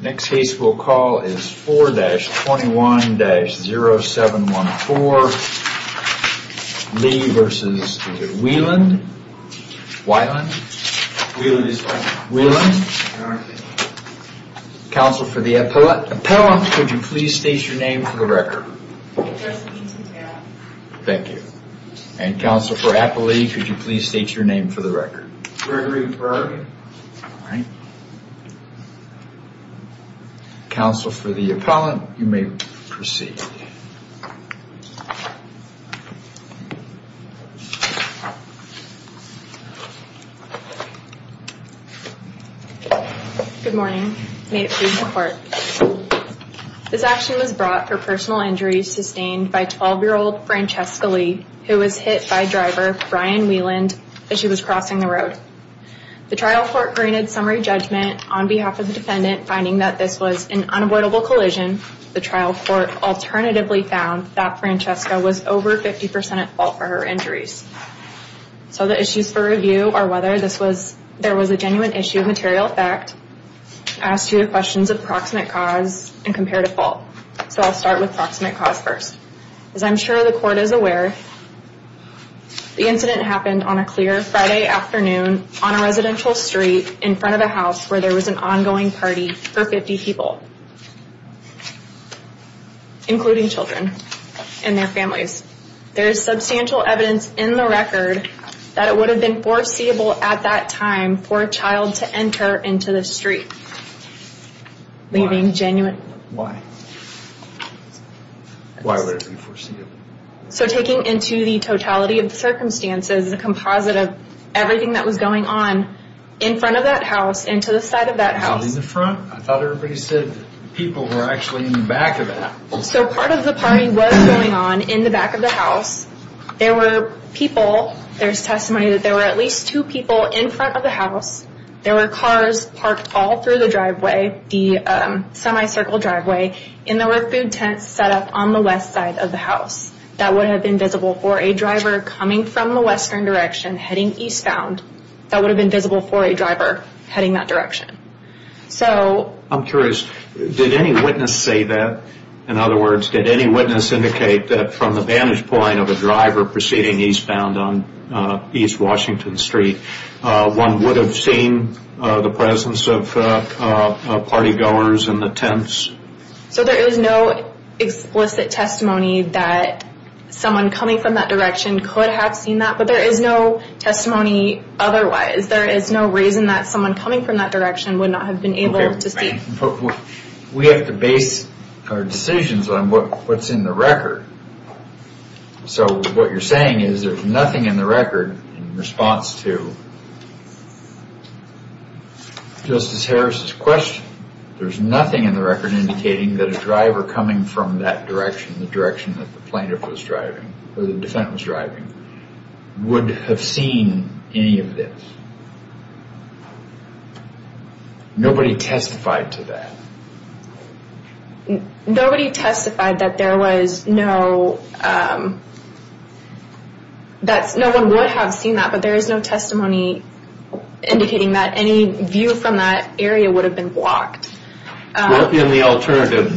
Next case we'll call is 4-21-0714. Lee v. Weiland, Weiland. Counsel for the appellant, could you please state your name for the record? Thank you. And counsel for Applee, could you please state your name for the record? Gregory Burg. Counsel for the appellant, you may proceed. Good morning. May it please the court. This action was brought for personal injury sustained by 12-year-old Francesca Lee, who was hit by driver Brian Weiland as she was crossing the road. The trial court granted summary judgment on behalf of the defendant, finding that this was an unavoidable collision. The trial court alternatively found that Francesca was over 50% at fault for her injuries. So the issues for review are whether there was a genuine issue of material effect, as to questions of proximate cause and comparative fault. So I'll start with proximate cause first. As I'm sure the court is aware, the incident happened on a clear Friday afternoon on a residential street in front of a house where there was an ongoing party for 50 people, including children and their families. There is substantial evidence in the record that it would have been foreseeable at that time for a child to enter into the street, leaving genuine... Why would it be foreseeable? So taking into the totality of the circumstances, the composite of everything that was going on in front of that house and to the side of that house... Not in the front? I thought everybody said people were actually in the back of that. So part of the party was going on in the back of the house. There were people, there's testimony that there were at least two people in front of the house. There were cars parked all through the driveway, the semi-circle driveway, and there were food tents set up on the west side of the house. That would have been visible for a driver coming from the western direction heading eastbound. That would have been visible for a driver heading that direction. So... I'm curious, did any witness say that? In other words, did any witness indicate that from the vantage point of a driver proceeding eastbound on East Washington Street, one would have seen the presence of party goers in the tents? So there is no explicit testimony that someone coming from that direction could have seen that, but there is no testimony otherwise. There is no reason that someone coming from that direction would not have been able to see... We have to base our decisions on what's in the record. So what you're saying is there's nothing in the record in response to Justice Harris' question. There's nothing in the record indicating that a driver coming from that direction, the direction that the plaintiff was driving, or the defendant was driving, would have seen any of this. Nobody testified to that. Nobody testified that there was no... No one would have seen that, but there is no testimony indicating that any view from that area would have been blocked. In the alternative,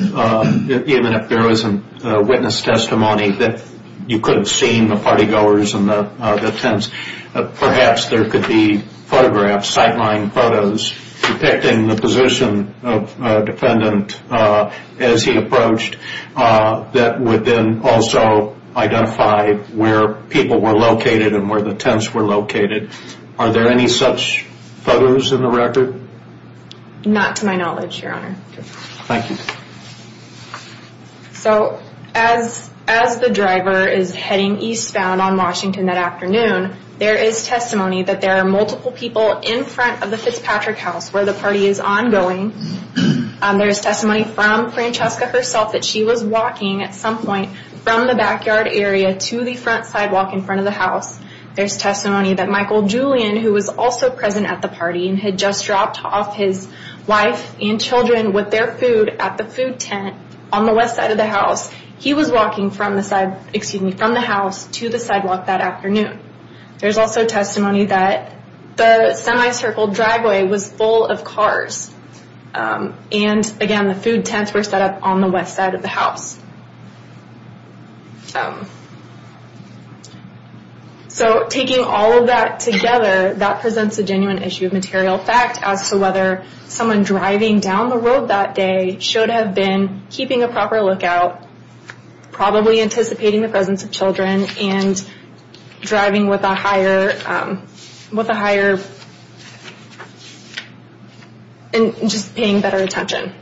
even if there was a witness testimony that you could have seen the party goers in the tents, perhaps there could be photographs, sightline photos, depicting the position of a defendant as he approached that would then also identify where people were located and where the tents were located. Are there any such photos in the record? Not to my knowledge, Your Honor. Thank you. So as the driver is heading eastbound on Washington that afternoon, there is testimony that there are multiple people in front of the Fitzpatrick house where the party is ongoing. There's testimony from Francesca herself that she was walking at some point from the backyard area to the front sidewalk in front of the house. There's testimony that Michael Julian, who was also present at the party, had just dropped off his wife and children with their food at the food tent on the west side of the house. He was walking from the house to the sidewalk that afternoon. There's also testimony that the semi-circled driveway was full of cars. And again, the food tents were set up on the west side of the house. So taking all of that together, that presents a genuine issue of material fact as to whether someone driving down the road that day should have been keeping a proper lookout, probably anticipating the presence of children, and just paying better attention.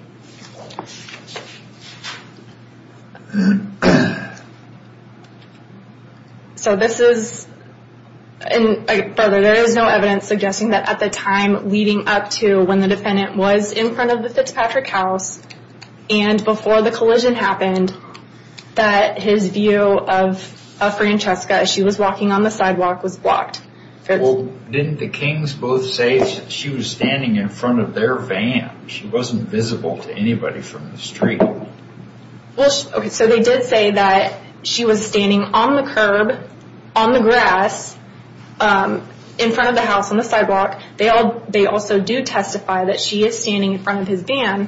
Further, there is no evidence suggesting that at the time leading up to when the defendant was in front of the Fitzpatrick house and before the collision happened, that his view of Francesca as she was walking on the sidewalk was blocked. Well, didn't the Kings both say that she was standing in front of their van? She wasn't visible to anybody from the street. So they did say that she was standing on the curb, on the grass, in front of the house on the sidewalk. They also do testify that she is standing in front of his van.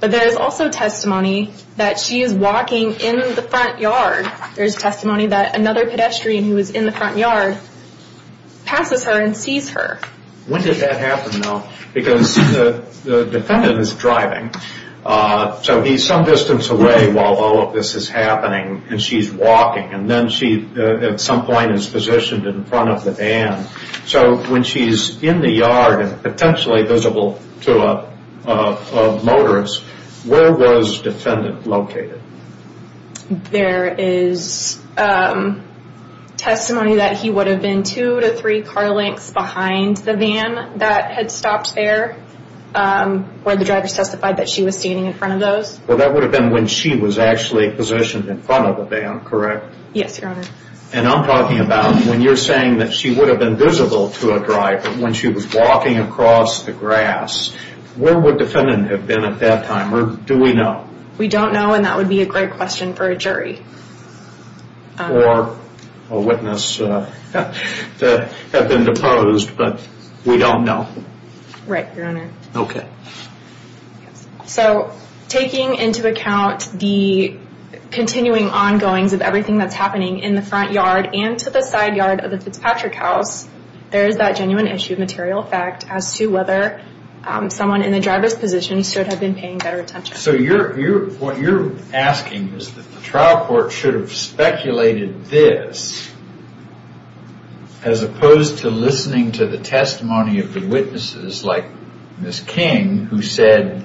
But there is also testimony that she is walking in the front yard. There's testimony that another pedestrian who was in the front yard passes her and sees her. When did that happen, though? Because the defendant is driving. So he's some distance away while all of this is happening, and she's walking. And then she, at some point, is positioned in front of the van. So when she's in the yard and potentially visible to a motorist, where was defendant located? There is testimony that he would have been two to three car lengths behind the van that had stopped there where the driver testified that she was standing in front of those. Well, that would have been when she was actually positioned in front of the van, correct? Yes, Your Honor. And I'm talking about when you're saying that she would have been visible to a driver when she was walking across the grass. Where would defendant have been at that time, or do we know? We don't know, and that would be a great question for a jury. Or a witness to have been deposed, but we don't know. Right, Your Honor. Okay. So taking into account the continuing ongoings of everything that's happening in the front yard and to the side yard of the Fitzpatrick house, there is that genuine issue of material fact as to whether someone in the driver's position should have been paying better attention. So what you're asking is that the trial court should have speculated this as opposed to listening to the testimony of the witnesses like Ms. King who said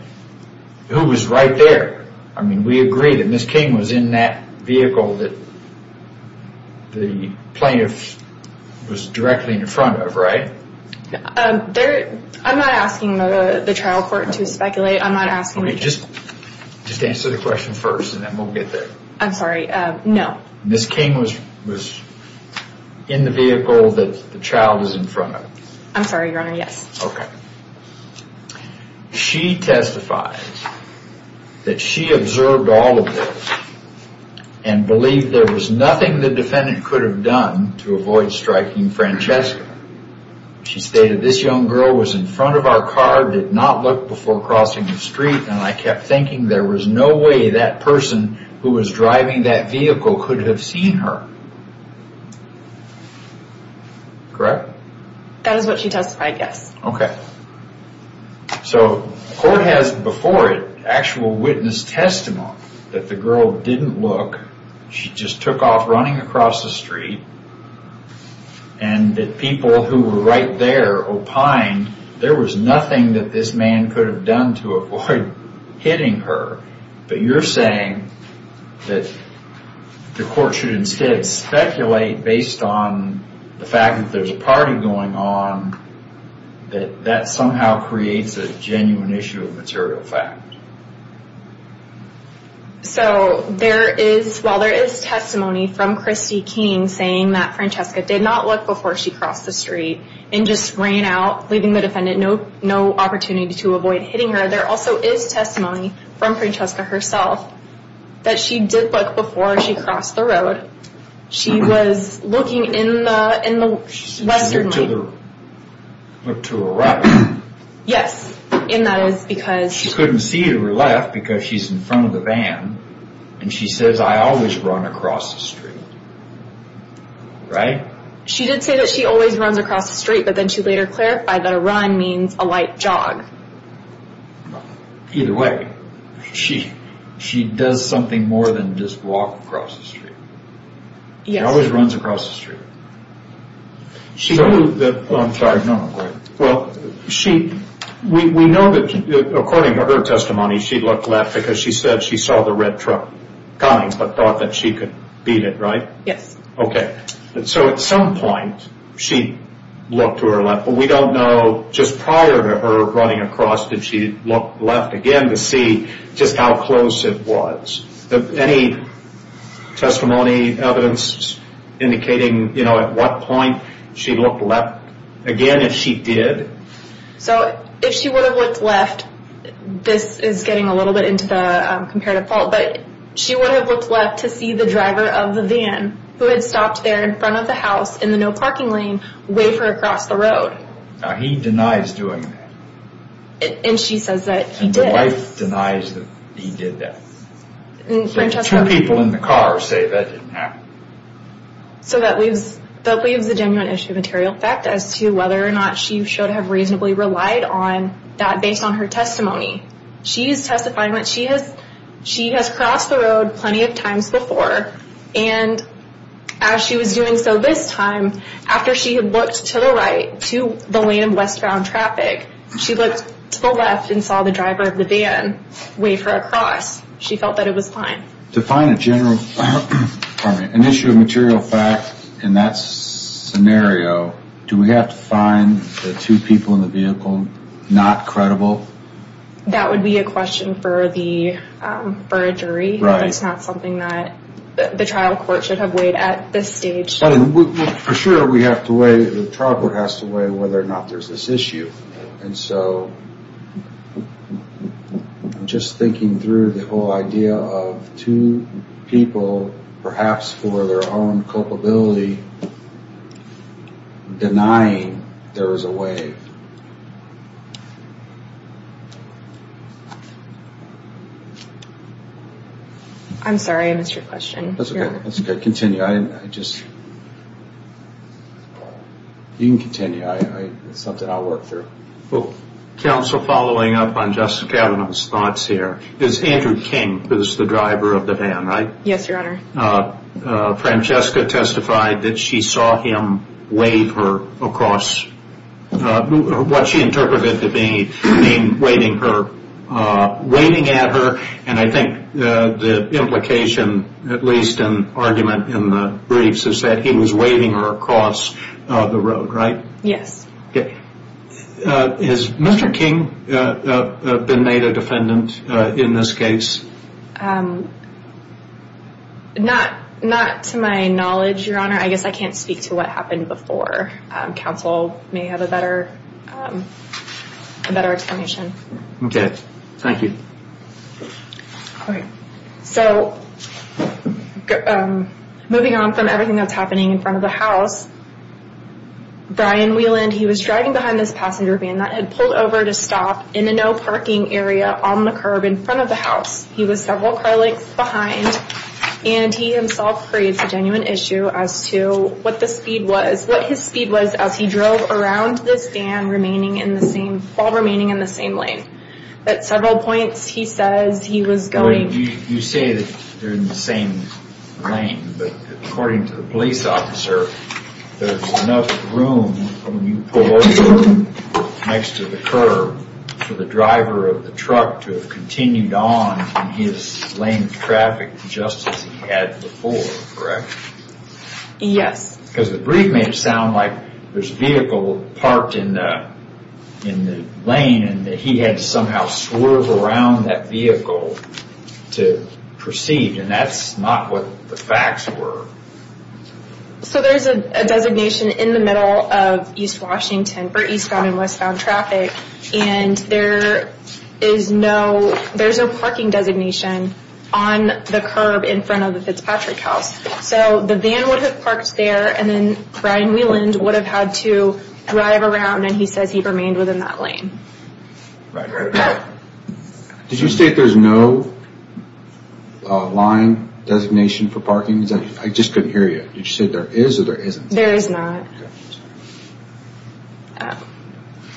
who was right there. I mean, we agree that Ms. King was in that vehicle that the plaintiff was directly in front of, right? I'm not asking the trial court to speculate. Just answer the question first and then we'll get there. I'm sorry, no. Ms. King was in the vehicle that the child was in front of. I'm sorry, Your Honor, yes. Okay. She testified that she observed all of this and believed there was nothing the defendant could have done to avoid striking Francesca. She stated, this young girl was in front of our car, did not look before crossing the street, and I kept thinking there was no way that person who was driving that vehicle could have seen her. Correct? That is what she testified, yes. Okay. So the court has before it actual witness testimony that the girl didn't look, she just took off running across the street, and that people who were right there opined there was nothing that this man could have done to avoid hitting her, but you're saying that the court should instead speculate based on the fact that there's a party going on that that somehow creates a genuine issue of material fact. So there is, well, there is testimony from Christy King saying that Francesca did not look before she crossed the street and just ran out, leaving the defendant no opportunity to avoid hitting her. There also is testimony from Francesca herself that she did look before she crossed the road. She was looking in the western lane. She looked to her right. Yes, and that is because... She couldn't see to her left because she's in front of the van, and she says, I always run across the street, right? She did say that she always runs across the street, but then she later clarified that a run means a light jog. Either way, she does something more than just walk across the street. Yes. She always runs across the street. I'm sorry, no, go ahead. Well, we know that according to her testimony, she looked left because she said she saw the red truck coming, but thought that she could beat it, right? Yes. Okay. So at some point, she looked to her left, but we don't know just prior to her running across, did she look left again to see just how close it was? Any testimony, evidence indicating at what point she looked left again if she did? So if she would have looked left, this is getting a little bit into the comparative fault, but she would have looked left to see the driver of the van who had stopped there in front of the house in the no-parking lane wave her across the road. Now, he denies doing that. And she says that he did. And the wife denies that he did that. Two people in the car say that didn't happen. So that leaves a genuine issue of material fact as to whether or not she should have reasonably relied on that based on her testimony. She is testifying that she has crossed the road plenty of times before, and as she was doing so this time, after she had looked to the right to the lane of westbound traffic, she looked to the left and saw the driver of the van wave her across. She felt that it was fine. To find a general, pardon me, an issue of material fact in that scenario, do we have to find the two people in the vehicle not credible? That would be a question for a jury. That's not something that the trial court should have weighed at this stage. For sure, we have to weigh, the trial court has to weigh whether or not there's this issue. And so, just thinking through the whole idea of two people, perhaps for their own culpability, denying there was a wave. I'm sorry, I missed your question. That's okay, continue. You can continue. It's something I'll work through. Counsel, following up on Justice Kavanaugh's thoughts here, is Andrew King who is the driver of the van, right? Yes, Your Honor. Francesca testified that she saw him wave her across, what she interpreted to be him waving at her, and I think the implication, at least an argument in the briefs, is that he was waving her across the road, right? Yes. Has Mr. King been made a defendant in this case? Not to my knowledge, Your Honor. I guess I can't speak to what happened before. Counsel may have a better explanation. Okay, thank you. Okay, so moving on from everything that's happening in front of the house, Brian Wieland, he was driving behind this passenger van that had pulled over to stop in a no-parking area on the curb in front of the house. He was several car lengths behind, and he himself creates a genuine issue as to what the speed was, what his speed was as he drove around this van while remaining in the same lane. At several points, he says he was going... You say that they're in the same lane, but according to the police officer, there's enough room when you pull over next to the curb for the driver of the truck to have continued on in his lane of traffic just as he had before, correct? Yes. Because the brief made it sound like there's a vehicle parked in the lane and that he had to somehow swerve around that vehicle to proceed, and that's not what the facts were. So there's a designation in the middle of East Washington, or eastbound and westbound traffic, and there is no parking designation on the curb in front of the Fitzpatrick house. So the van would have parked there, and then Brian Wieland would have had to drive around, and he says he remained within that lane. Did you state there's no line designation for parking? I just couldn't hear you. Did you say there is or there isn't? There is not.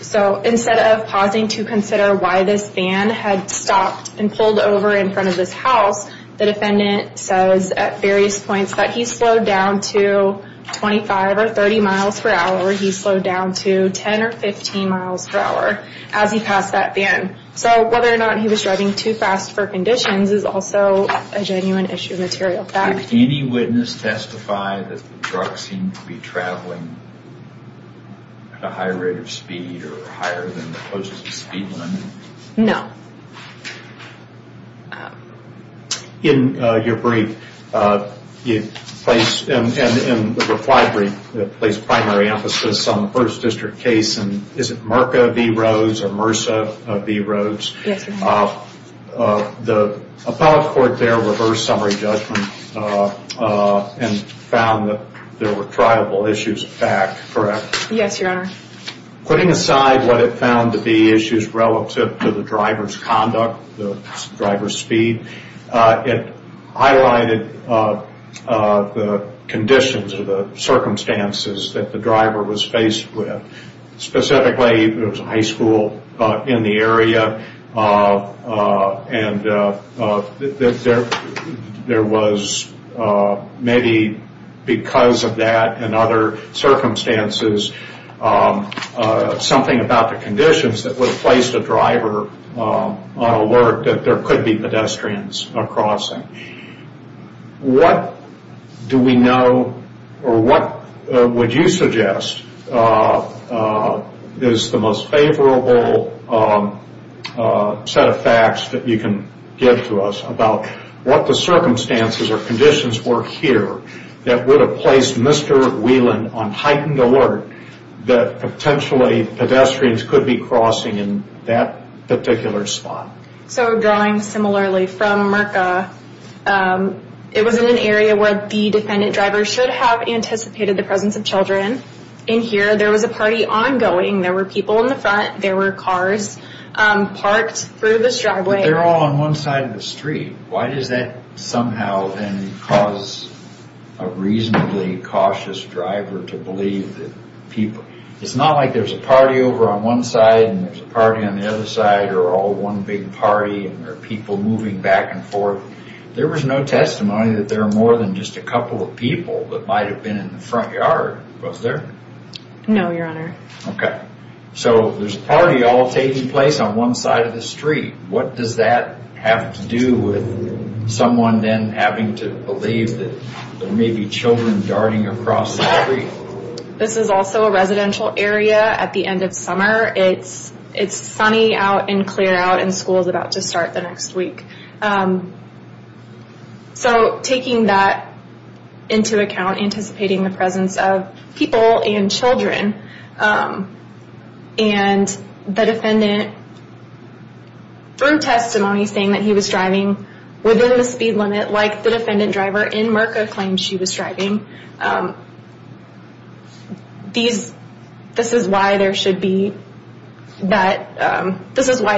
So instead of pausing to consider why this van had stopped and pulled over in front of this house, the defendant says at various points that he slowed down to 25 or 30 miles per hour, or he slowed down to 10 or 15 miles per hour as he passed that van. So whether or not he was driving too fast for conditions is also a genuine issue of material fact. Did any witness testify that the truck seemed to be traveling at a high rate of speed or higher than the closest speed limit? No. In your brief, you place, in the reply brief, you place primary emphasis on the first district case, and is it Mirka v. Rhodes or Mercer v. Rhodes? Yes, Your Honor. The appellate court there reversed summary judgment and found that there were triable issues of fact, correct? Yes, Your Honor. Putting aside what it found to be issues relative to the driver's conduct, the driver's speed, it highlighted the conditions or the circumstances that the driver was faced with. Specifically, it was a high school in the area, and there was maybe because of that and other circumstances, something about the conditions that would have placed the driver on alert that there could be pedestrians crossing. What do we know or what would you suggest is the most favorable set of facts that you can give to us about what the circumstances or conditions were here that would have placed Mr. Whelan on heightened alert that potentially pedestrians could be crossing in that particular spot? So drawing similarly from Mirka, it was in an area where the defendant driver should have anticipated the presence of children. In here, there was a party ongoing. There were people in the front. There were cars parked through this driveway. But they're all on one side of the street. Why does that somehow then cause a reasonably cautious driver to believe that people... It's not like there's a party over on one side and there's a party on the other side or all one big party and there are people moving back and forth. There was no testimony that there were more than just a couple of people that might have been in the front yard. Was there? No, Your Honor. Okay. So there's a party all taking place on one side of the street. What does that have to do with someone then having to believe that there may be children darting across the street? This is also a residential area at the end of summer. It's sunny out and clear out and school is about to start the next week. So taking that into account, anticipating the presence of people and children, and the defendant through testimony saying that he was driving within the speed limit like the defendant driver in Merca claimed she was driving, this is why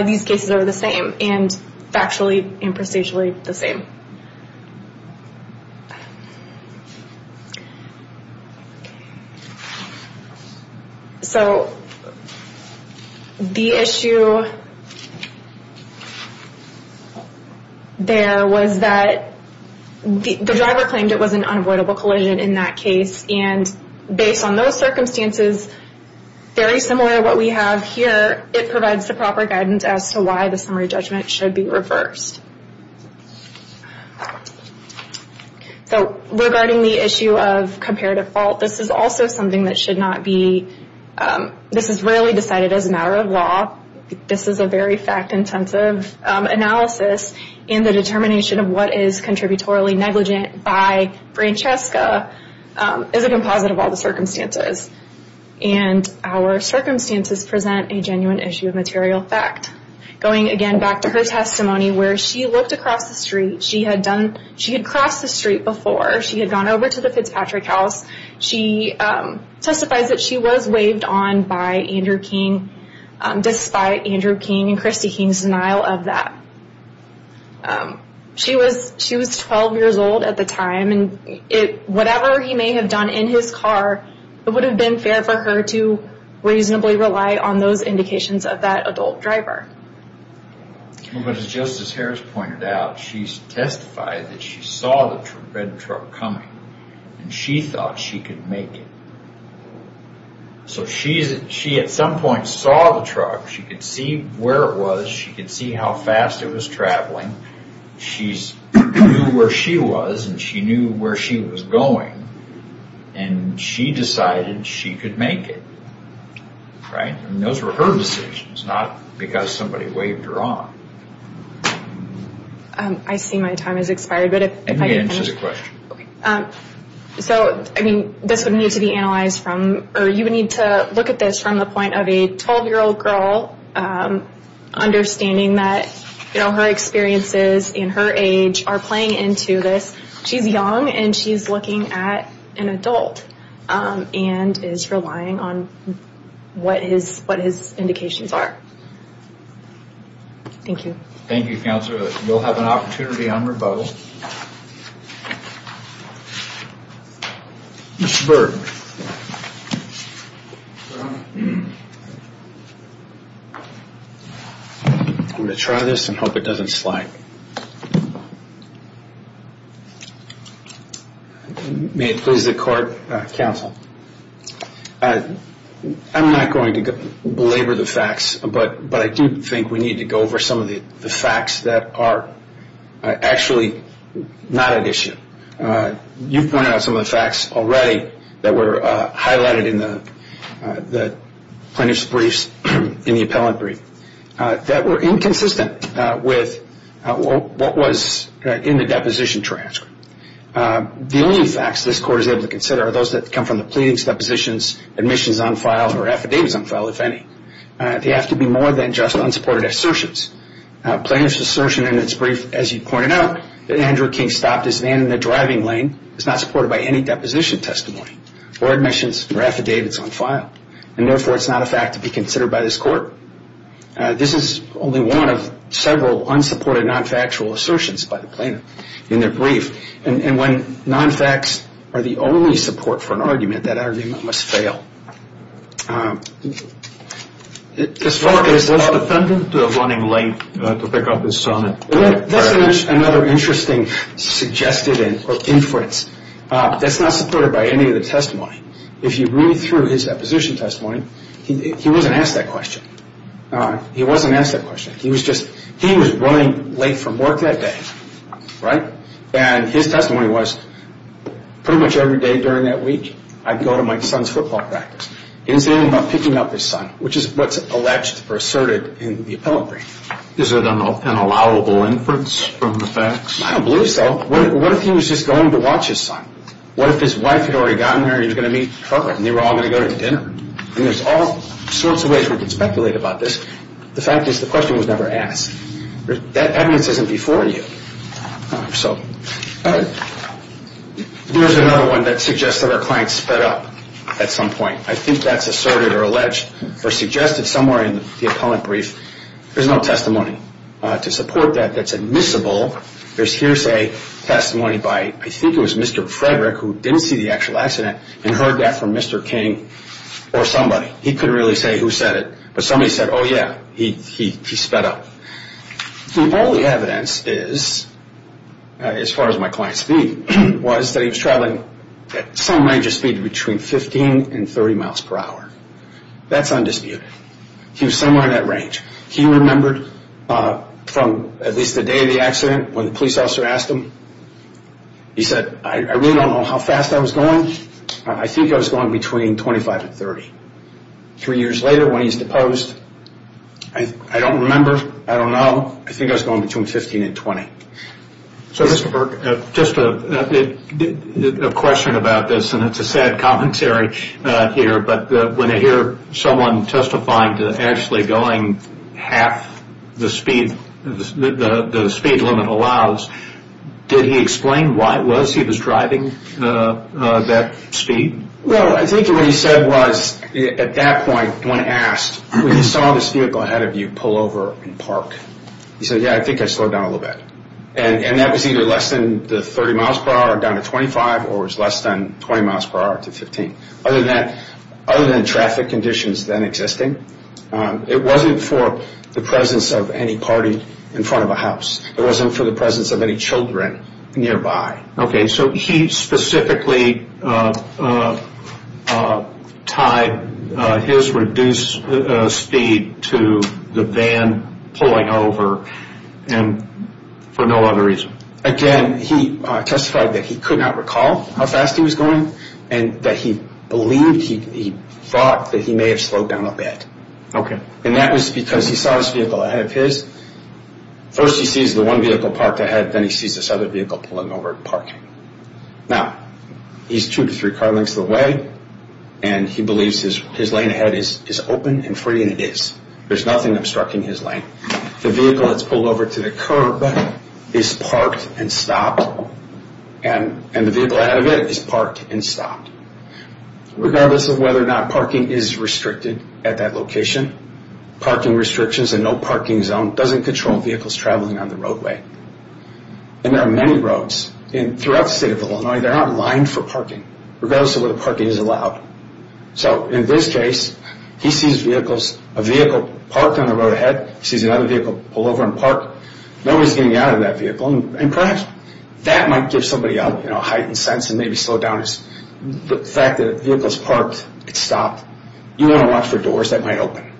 these cases are the same and factually and prestigiously the same. So the issue there was that the driver claimed it was an unavoidable collision in that case and based on those circumstances, very similar to what we have here, it provides the proper guidance as to why the summary judgment should be reversed. So regarding the issue of comparative fault, this is also something that should not be, this is rarely decided as a matter of law. This is a very fact-intensive analysis and the determination of what is contributorily negligent by Francesca is a composite of all the circumstances. And our circumstances present a genuine issue of material fact. Going again back to her testimony where she looked across the street. She had crossed the street before. She had gone over to the Fitzpatrick house. She testifies that she was waved on by Andrew King despite Andrew King and Christy King's denial of that. She was 12 years old at the time and whatever he may have done in his car, it would have been fair for her to reasonably rely on those indications of that adult driver. But as Justice Harris pointed out, she testified that she saw the red truck coming and she thought she could make it. So she at some point saw the truck. She could see where it was. She could see how fast it was traveling. She knew where she was and she knew where she was going and she decided she could make it. Those were her decisions, not because somebody waved her on. I see my time has expired. Let me answer the question. So this would need to be analyzed from or you would need to look at this from the point of a 12-year-old girl understanding that her experiences and her age are playing into this. She's young and she's looking at an adult and is relying on what his indications are. Thank you. Thank you, Counselor. We'll have an opportunity on rebuttal. Mr. Berg. I'm going to try this and hope it doesn't slide. May it please the Court, Counsel. I'm not going to belabor the facts, but I do think we need to go over some of the facts that are actually not at issue. You pointed out some of the facts already that were highlighted in the plaintiff's briefs in the appellant brief that were inconsistent with what was in the deposition transcript. The only facts this Court is able to consider are those that come from the pleadings, depositions, admissions on file, or affidavits on file, if any. They have to be more than just unsupported assertions. Plaintiff's assertion in its brief, as you pointed out, that Andrew King stopped his van in the driving lane is not supported by any deposition testimony or admissions or affidavits on file, and therefore it's not a fact to be considered by this Court. This is only one of several unsupported non-factual assertions by the plaintiff in their brief, and when non-facts are the only support for an argument, that argument must fail. This is another interesting suggested inference that's not supported by any of the testimony. If you read through his deposition testimony, he wasn't asked that question. He wasn't asked that question. He was running late from work that day, and his testimony was, pretty much every day during that week, I'd go to my son's football practice. He didn't say anything about picking up his son, which is what's alleged or asserted in the appellate brief. Is it an allowable inference from the facts? I don't believe so. What if he was just going to watch his son? What if his wife had already gotten there and he was going to meet her, and they were all going to go to dinner? There's all sorts of ways we can speculate about this. The fact is the question was never asked. That evidence isn't before you. So here's another one that suggests that our client sped up at some point. I think that's asserted or alleged or suggested somewhere in the appellate brief. There's no testimony to support that that's admissible. Here's a testimony by, I think it was Mr. Frederick, who didn't see the actual accident and heard that from Mr. King or somebody. He couldn't really say who said it, but somebody said, oh, yeah, he sped up. The only evidence is, as far as my client's speed, was that he was traveling at some range of speed between 15 and 30 miles per hour. That's undisputed. He was somewhere in that range. He remembered from at least the day of the accident when the police officer asked him. He said, I really don't know how fast I was going. I think I was going between 25 and 30. Three years later, when he's deposed, I don't remember. I don't know. I think I was going between 15 and 20. So, Mr. Burke, just a question about this, and it's a sad commentary here, but when I hear someone testifying to actually going half the speed the speed limit allows, did he explain why it was he was driving that speed? Well, I think what he said was at that point when asked, when he saw this vehicle ahead of you pull over and park, he said, yeah, I think I slowed down a little bit. And that was either less than the 30 miles per hour or down to 25 or was less than 20 miles per hour to 15. Other than traffic conditions then existing, it wasn't for the presence of any party in front of a house. It wasn't for the presence of any children nearby. Okay. So he specifically tied his reduced speed to the van pulling over for no other reason? Again, he testified that he could not recall how fast he was going and that he believed, he thought that he may have slowed down a bit. Okay. And that was because he saw this vehicle ahead of his. First he sees the one vehicle parked ahead, but then he sees this other vehicle pulling over and parking. Now, he's two to three car lengths away, and he believes his lane ahead is open and free, and it is. There's nothing obstructing his lane. The vehicle that's pulled over to the curb is parked and stopped, and the vehicle ahead of it is parked and stopped. Regardless of whether or not parking is restricted at that location, parking restrictions and no parking zone doesn't control vehicles traveling on the roadway. And there are many roads throughout the state of Illinois that are not lined for parking, regardless of whether parking is allowed. So in this case, he sees a vehicle parked on the road ahead. He sees another vehicle pull over and park. Nobody's getting out of that vehicle. And perhaps that might give somebody a heightened sense You want to watch for doors that might open.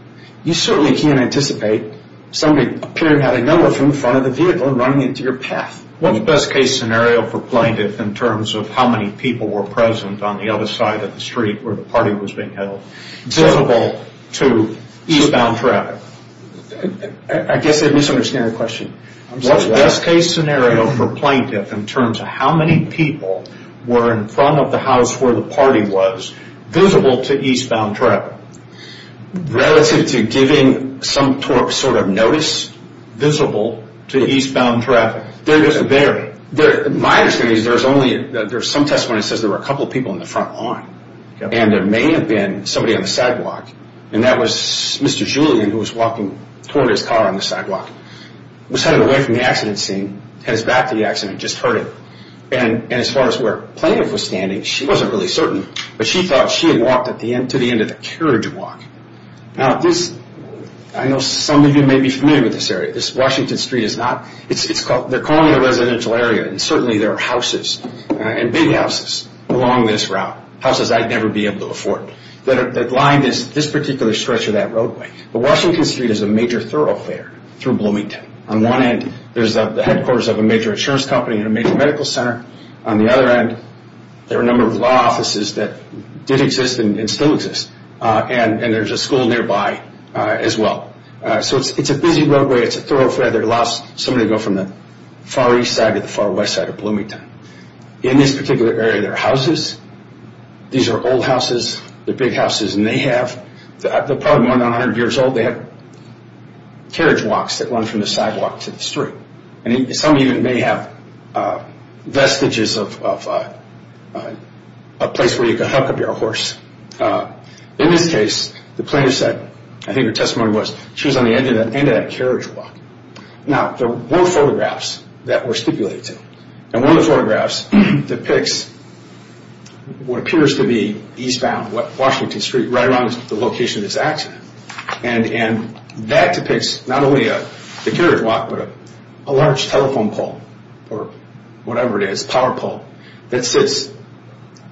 You certainly can't anticipate somebody appearing to have a number from the front of the vehicle and running into your path. What's the best case scenario for plaintiff in terms of how many people were present on the other side of the street where the party was being held, visible to eastbound traffic? I guess I misunderstand the question. What's the best case scenario for plaintiff in terms of how many people were in front of the house where the party was, visible to eastbound traffic? Relative to giving some sort of notice visible to eastbound traffic. My understanding is there's some testimony that says there were a couple of people in the front lawn. And there may have been somebody on the sidewalk. And that was Mr. Julian who was walking toward his car on the sidewalk. He was headed away from the accident scene, headed back to the accident and just heard it. And as far as where plaintiff was standing, she wasn't really certain. But she thought she had walked to the end of the carriage walk. Now this, I know some of you may be familiar with this area. This Washington Street is not, they're calling it a residential area. And certainly there are houses and big houses along this route. Houses I'd never be able to afford that line this particular stretch of that roadway. But Washington Street is a major thoroughfare through Bloomington. On one end, there's the headquarters of a major insurance company and a major medical center. On the other end, there are a number of law offices that did exist and still exist. And there's a school nearby as well. So it's a busy roadway. It's a thoroughfare that allows somebody to go from the far east side to the far west side of Bloomington. In this particular area, there are houses. These are old houses. They're big houses. And they have, they're probably more than 100 years old. They have carriage walks that run from the sidewalk to the street. And some of you may have vestiges of a place where you can hook up your horse. In this case, the plaintiff said, I think her testimony was, she was on the end of that carriage walk. Now there were photographs that were stipulated to. And one of the photographs depicts what appears to be eastbound, Washington Street, right around the location of this accident. And that depicts not only the carriage walk, but a large telephone pole, or whatever it is, power pole, that sits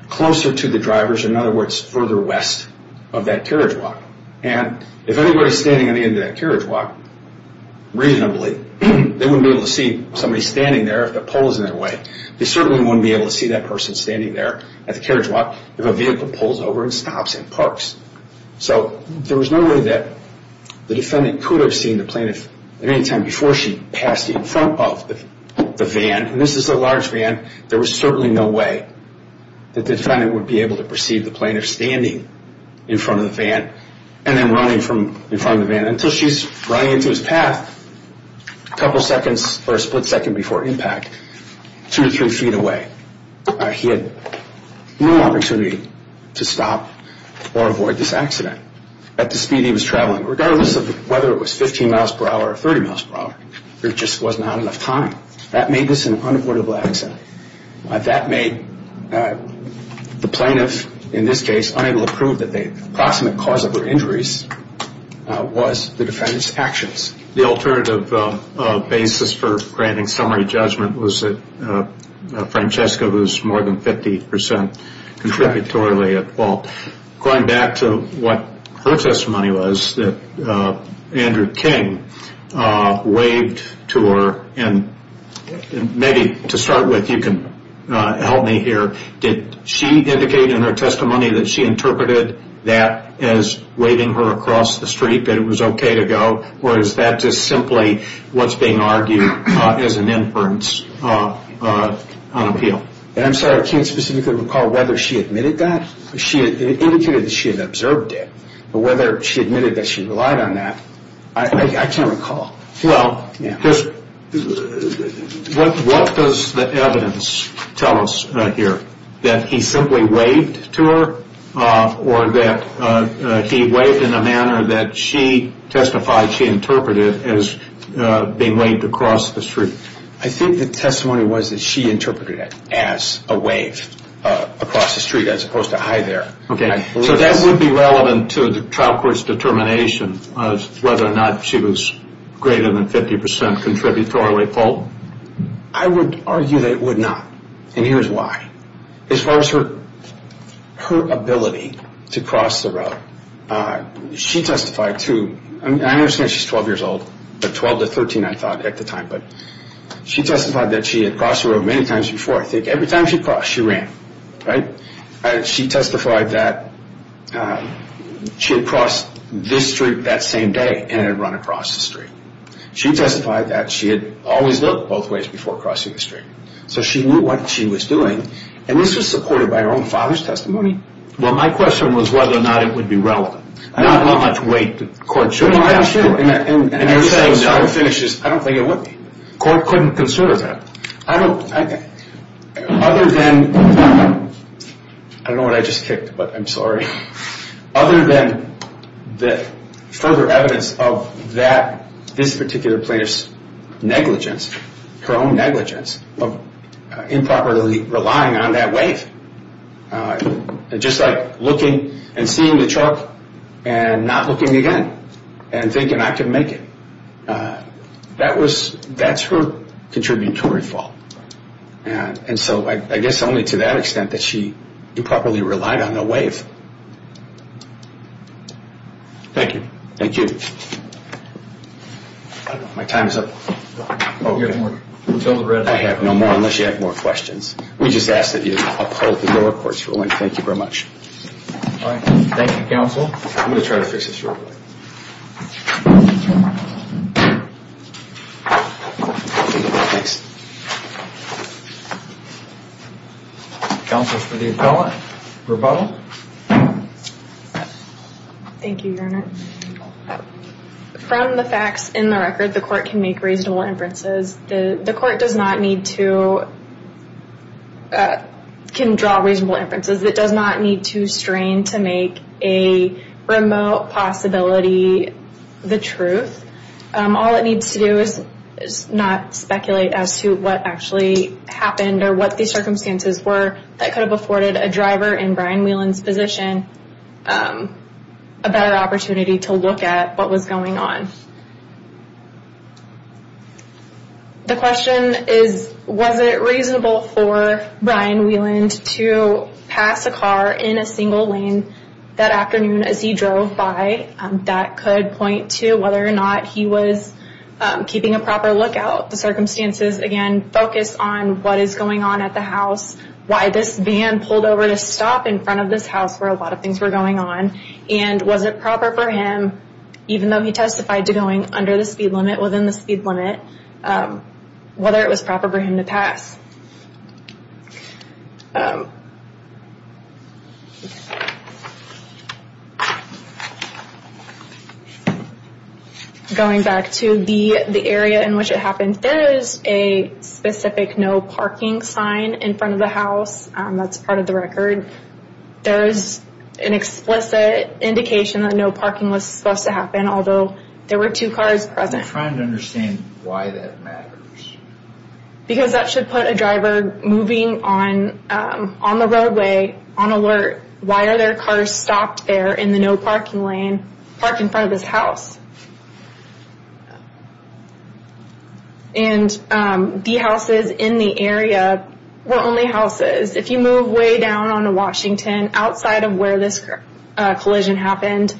closer to the drivers, in other words, further west of that carriage walk. And if anybody's standing on the end of that carriage walk, reasonably, they wouldn't be able to see somebody standing there if the pole was in their way. They certainly wouldn't be able to see that person standing there at the carriage walk if a vehicle pulls over and stops and parks. So there was no way that the defendant could have seen the plaintiff at any time before she passed in front of the van. And this is a large van. There was certainly no way that the defendant would be able to perceive the plaintiff standing in front of the van and then running in front of the van until she's running into his path a couple seconds, or a split second before impact, two to three feet away. He had no opportunity to stop or avoid this accident. At the speed he was traveling, regardless of whether it was 15 miles per hour or 30 miles per hour, there just was not enough time. That made this an unavoidable accident. That made the plaintiff, in this case, unable to prove that the approximate cause of her injuries was the defendant's actions. The alternative basis for granting summary judgment was that Francesca was more than 50% contributory at fault. Going back to what her testimony was that Andrew King waved to her, and maybe to start with you can help me here, did she indicate in her testimony that she interpreted that as waving her across the street that it was okay to go, or is that just simply what's being argued as an inference on appeal? I'm sorry, I can't specifically recall whether she admitted that. It indicated that she had observed it, but whether she admitted that she relied on that, I can't recall. Well, what does the evidence tell us here? That he simply waved to her, or that he waved in a manner that she testified she interpreted as being waved across the street? I think the testimony was that she interpreted it as a wave across the street as opposed to I there. Okay, so that would be relevant to the trial court's determination of whether or not she was greater than 50% contributory at fault? I would argue that it would not, and here's why. As far as her ability to cross the road, she testified too. I understand she's 12 years old, but 12 to 13 I thought at the time, but she testified that she had crossed the road many times before. I think every time she crossed, she ran, right? She testified that she had crossed this street that same day and had run across the street. She testified that she had always looked both ways before crossing the street. So she knew what she was doing, and this was supported by her own father's testimony. Well, my question was whether or not it would be relevant. Not how much weight the court should have. I don't think it would be. The court couldn't consider that. Other than, I don't know what I just kicked, but I'm sorry. Other than the further evidence of this particular plaintiff's negligence, her own negligence of improperly relying on that weight. Just like looking and seeing the truck and not looking again and thinking I can make it. That's her contributory fault. And so I guess only to that extent that she improperly relied on the weight. Thank you. Thank you. My time is up. I have no more unless you have more questions. We just ask that you uphold the lower court's ruling. Thank you very much. Thank you, counsel. I'm going to try to fix this real quick. Thanks. Counsel for the appellant. Rebuttal. Thank you, Your Honor. From the facts in the record, the court can make reasonable inferences. The court does not need to draw reasonable inferences. It does not need to strain to make a remote possibility the truth. All it needs to do is not speculate as to what actually happened or what the circumstances were that could have afforded a driver in Brian Whelan's position a better opportunity to look at what was going on. The question is, was it reasonable for Brian Whelan to pass a car in a single lane that afternoon as he drove by? That could point to whether or not he was keeping a proper lookout. The circumstances, again, focus on what is going on at the house, why this van pulled over to stop in front of this house where a lot of things were going on, and was it proper for him, even though he testified to going under the speed limit, within the speed limit, whether it was proper for him to pass. Going back to the area in which it happened, there is a specific no parking sign in front of the house. That's part of the record. There is an explicit indication that no parking was supposed to happen, although there were two cars present. I'm trying to understand why that matters. Because that should put a driver moving on the roadway on alert. Why are there cars stopped there in the no parking lane parked in front of this house? And the houses in the area were only houses. If you move way down on to Washington, outside of where this collision happened,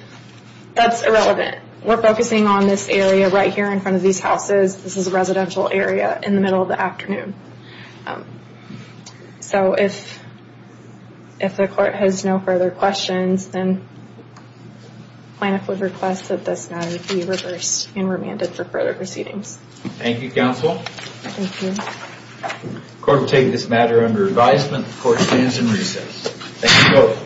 that's irrelevant. We're focusing on this area right here in front of these houses. This is a residential area in the middle of the afternoon. So if the court has no further questions, then plaintiff would request that this matter be reversed and remanded for further proceedings. Thank you, counsel. Thank you. The court will take this matter under advisement. The court stands in recess. Thank you both.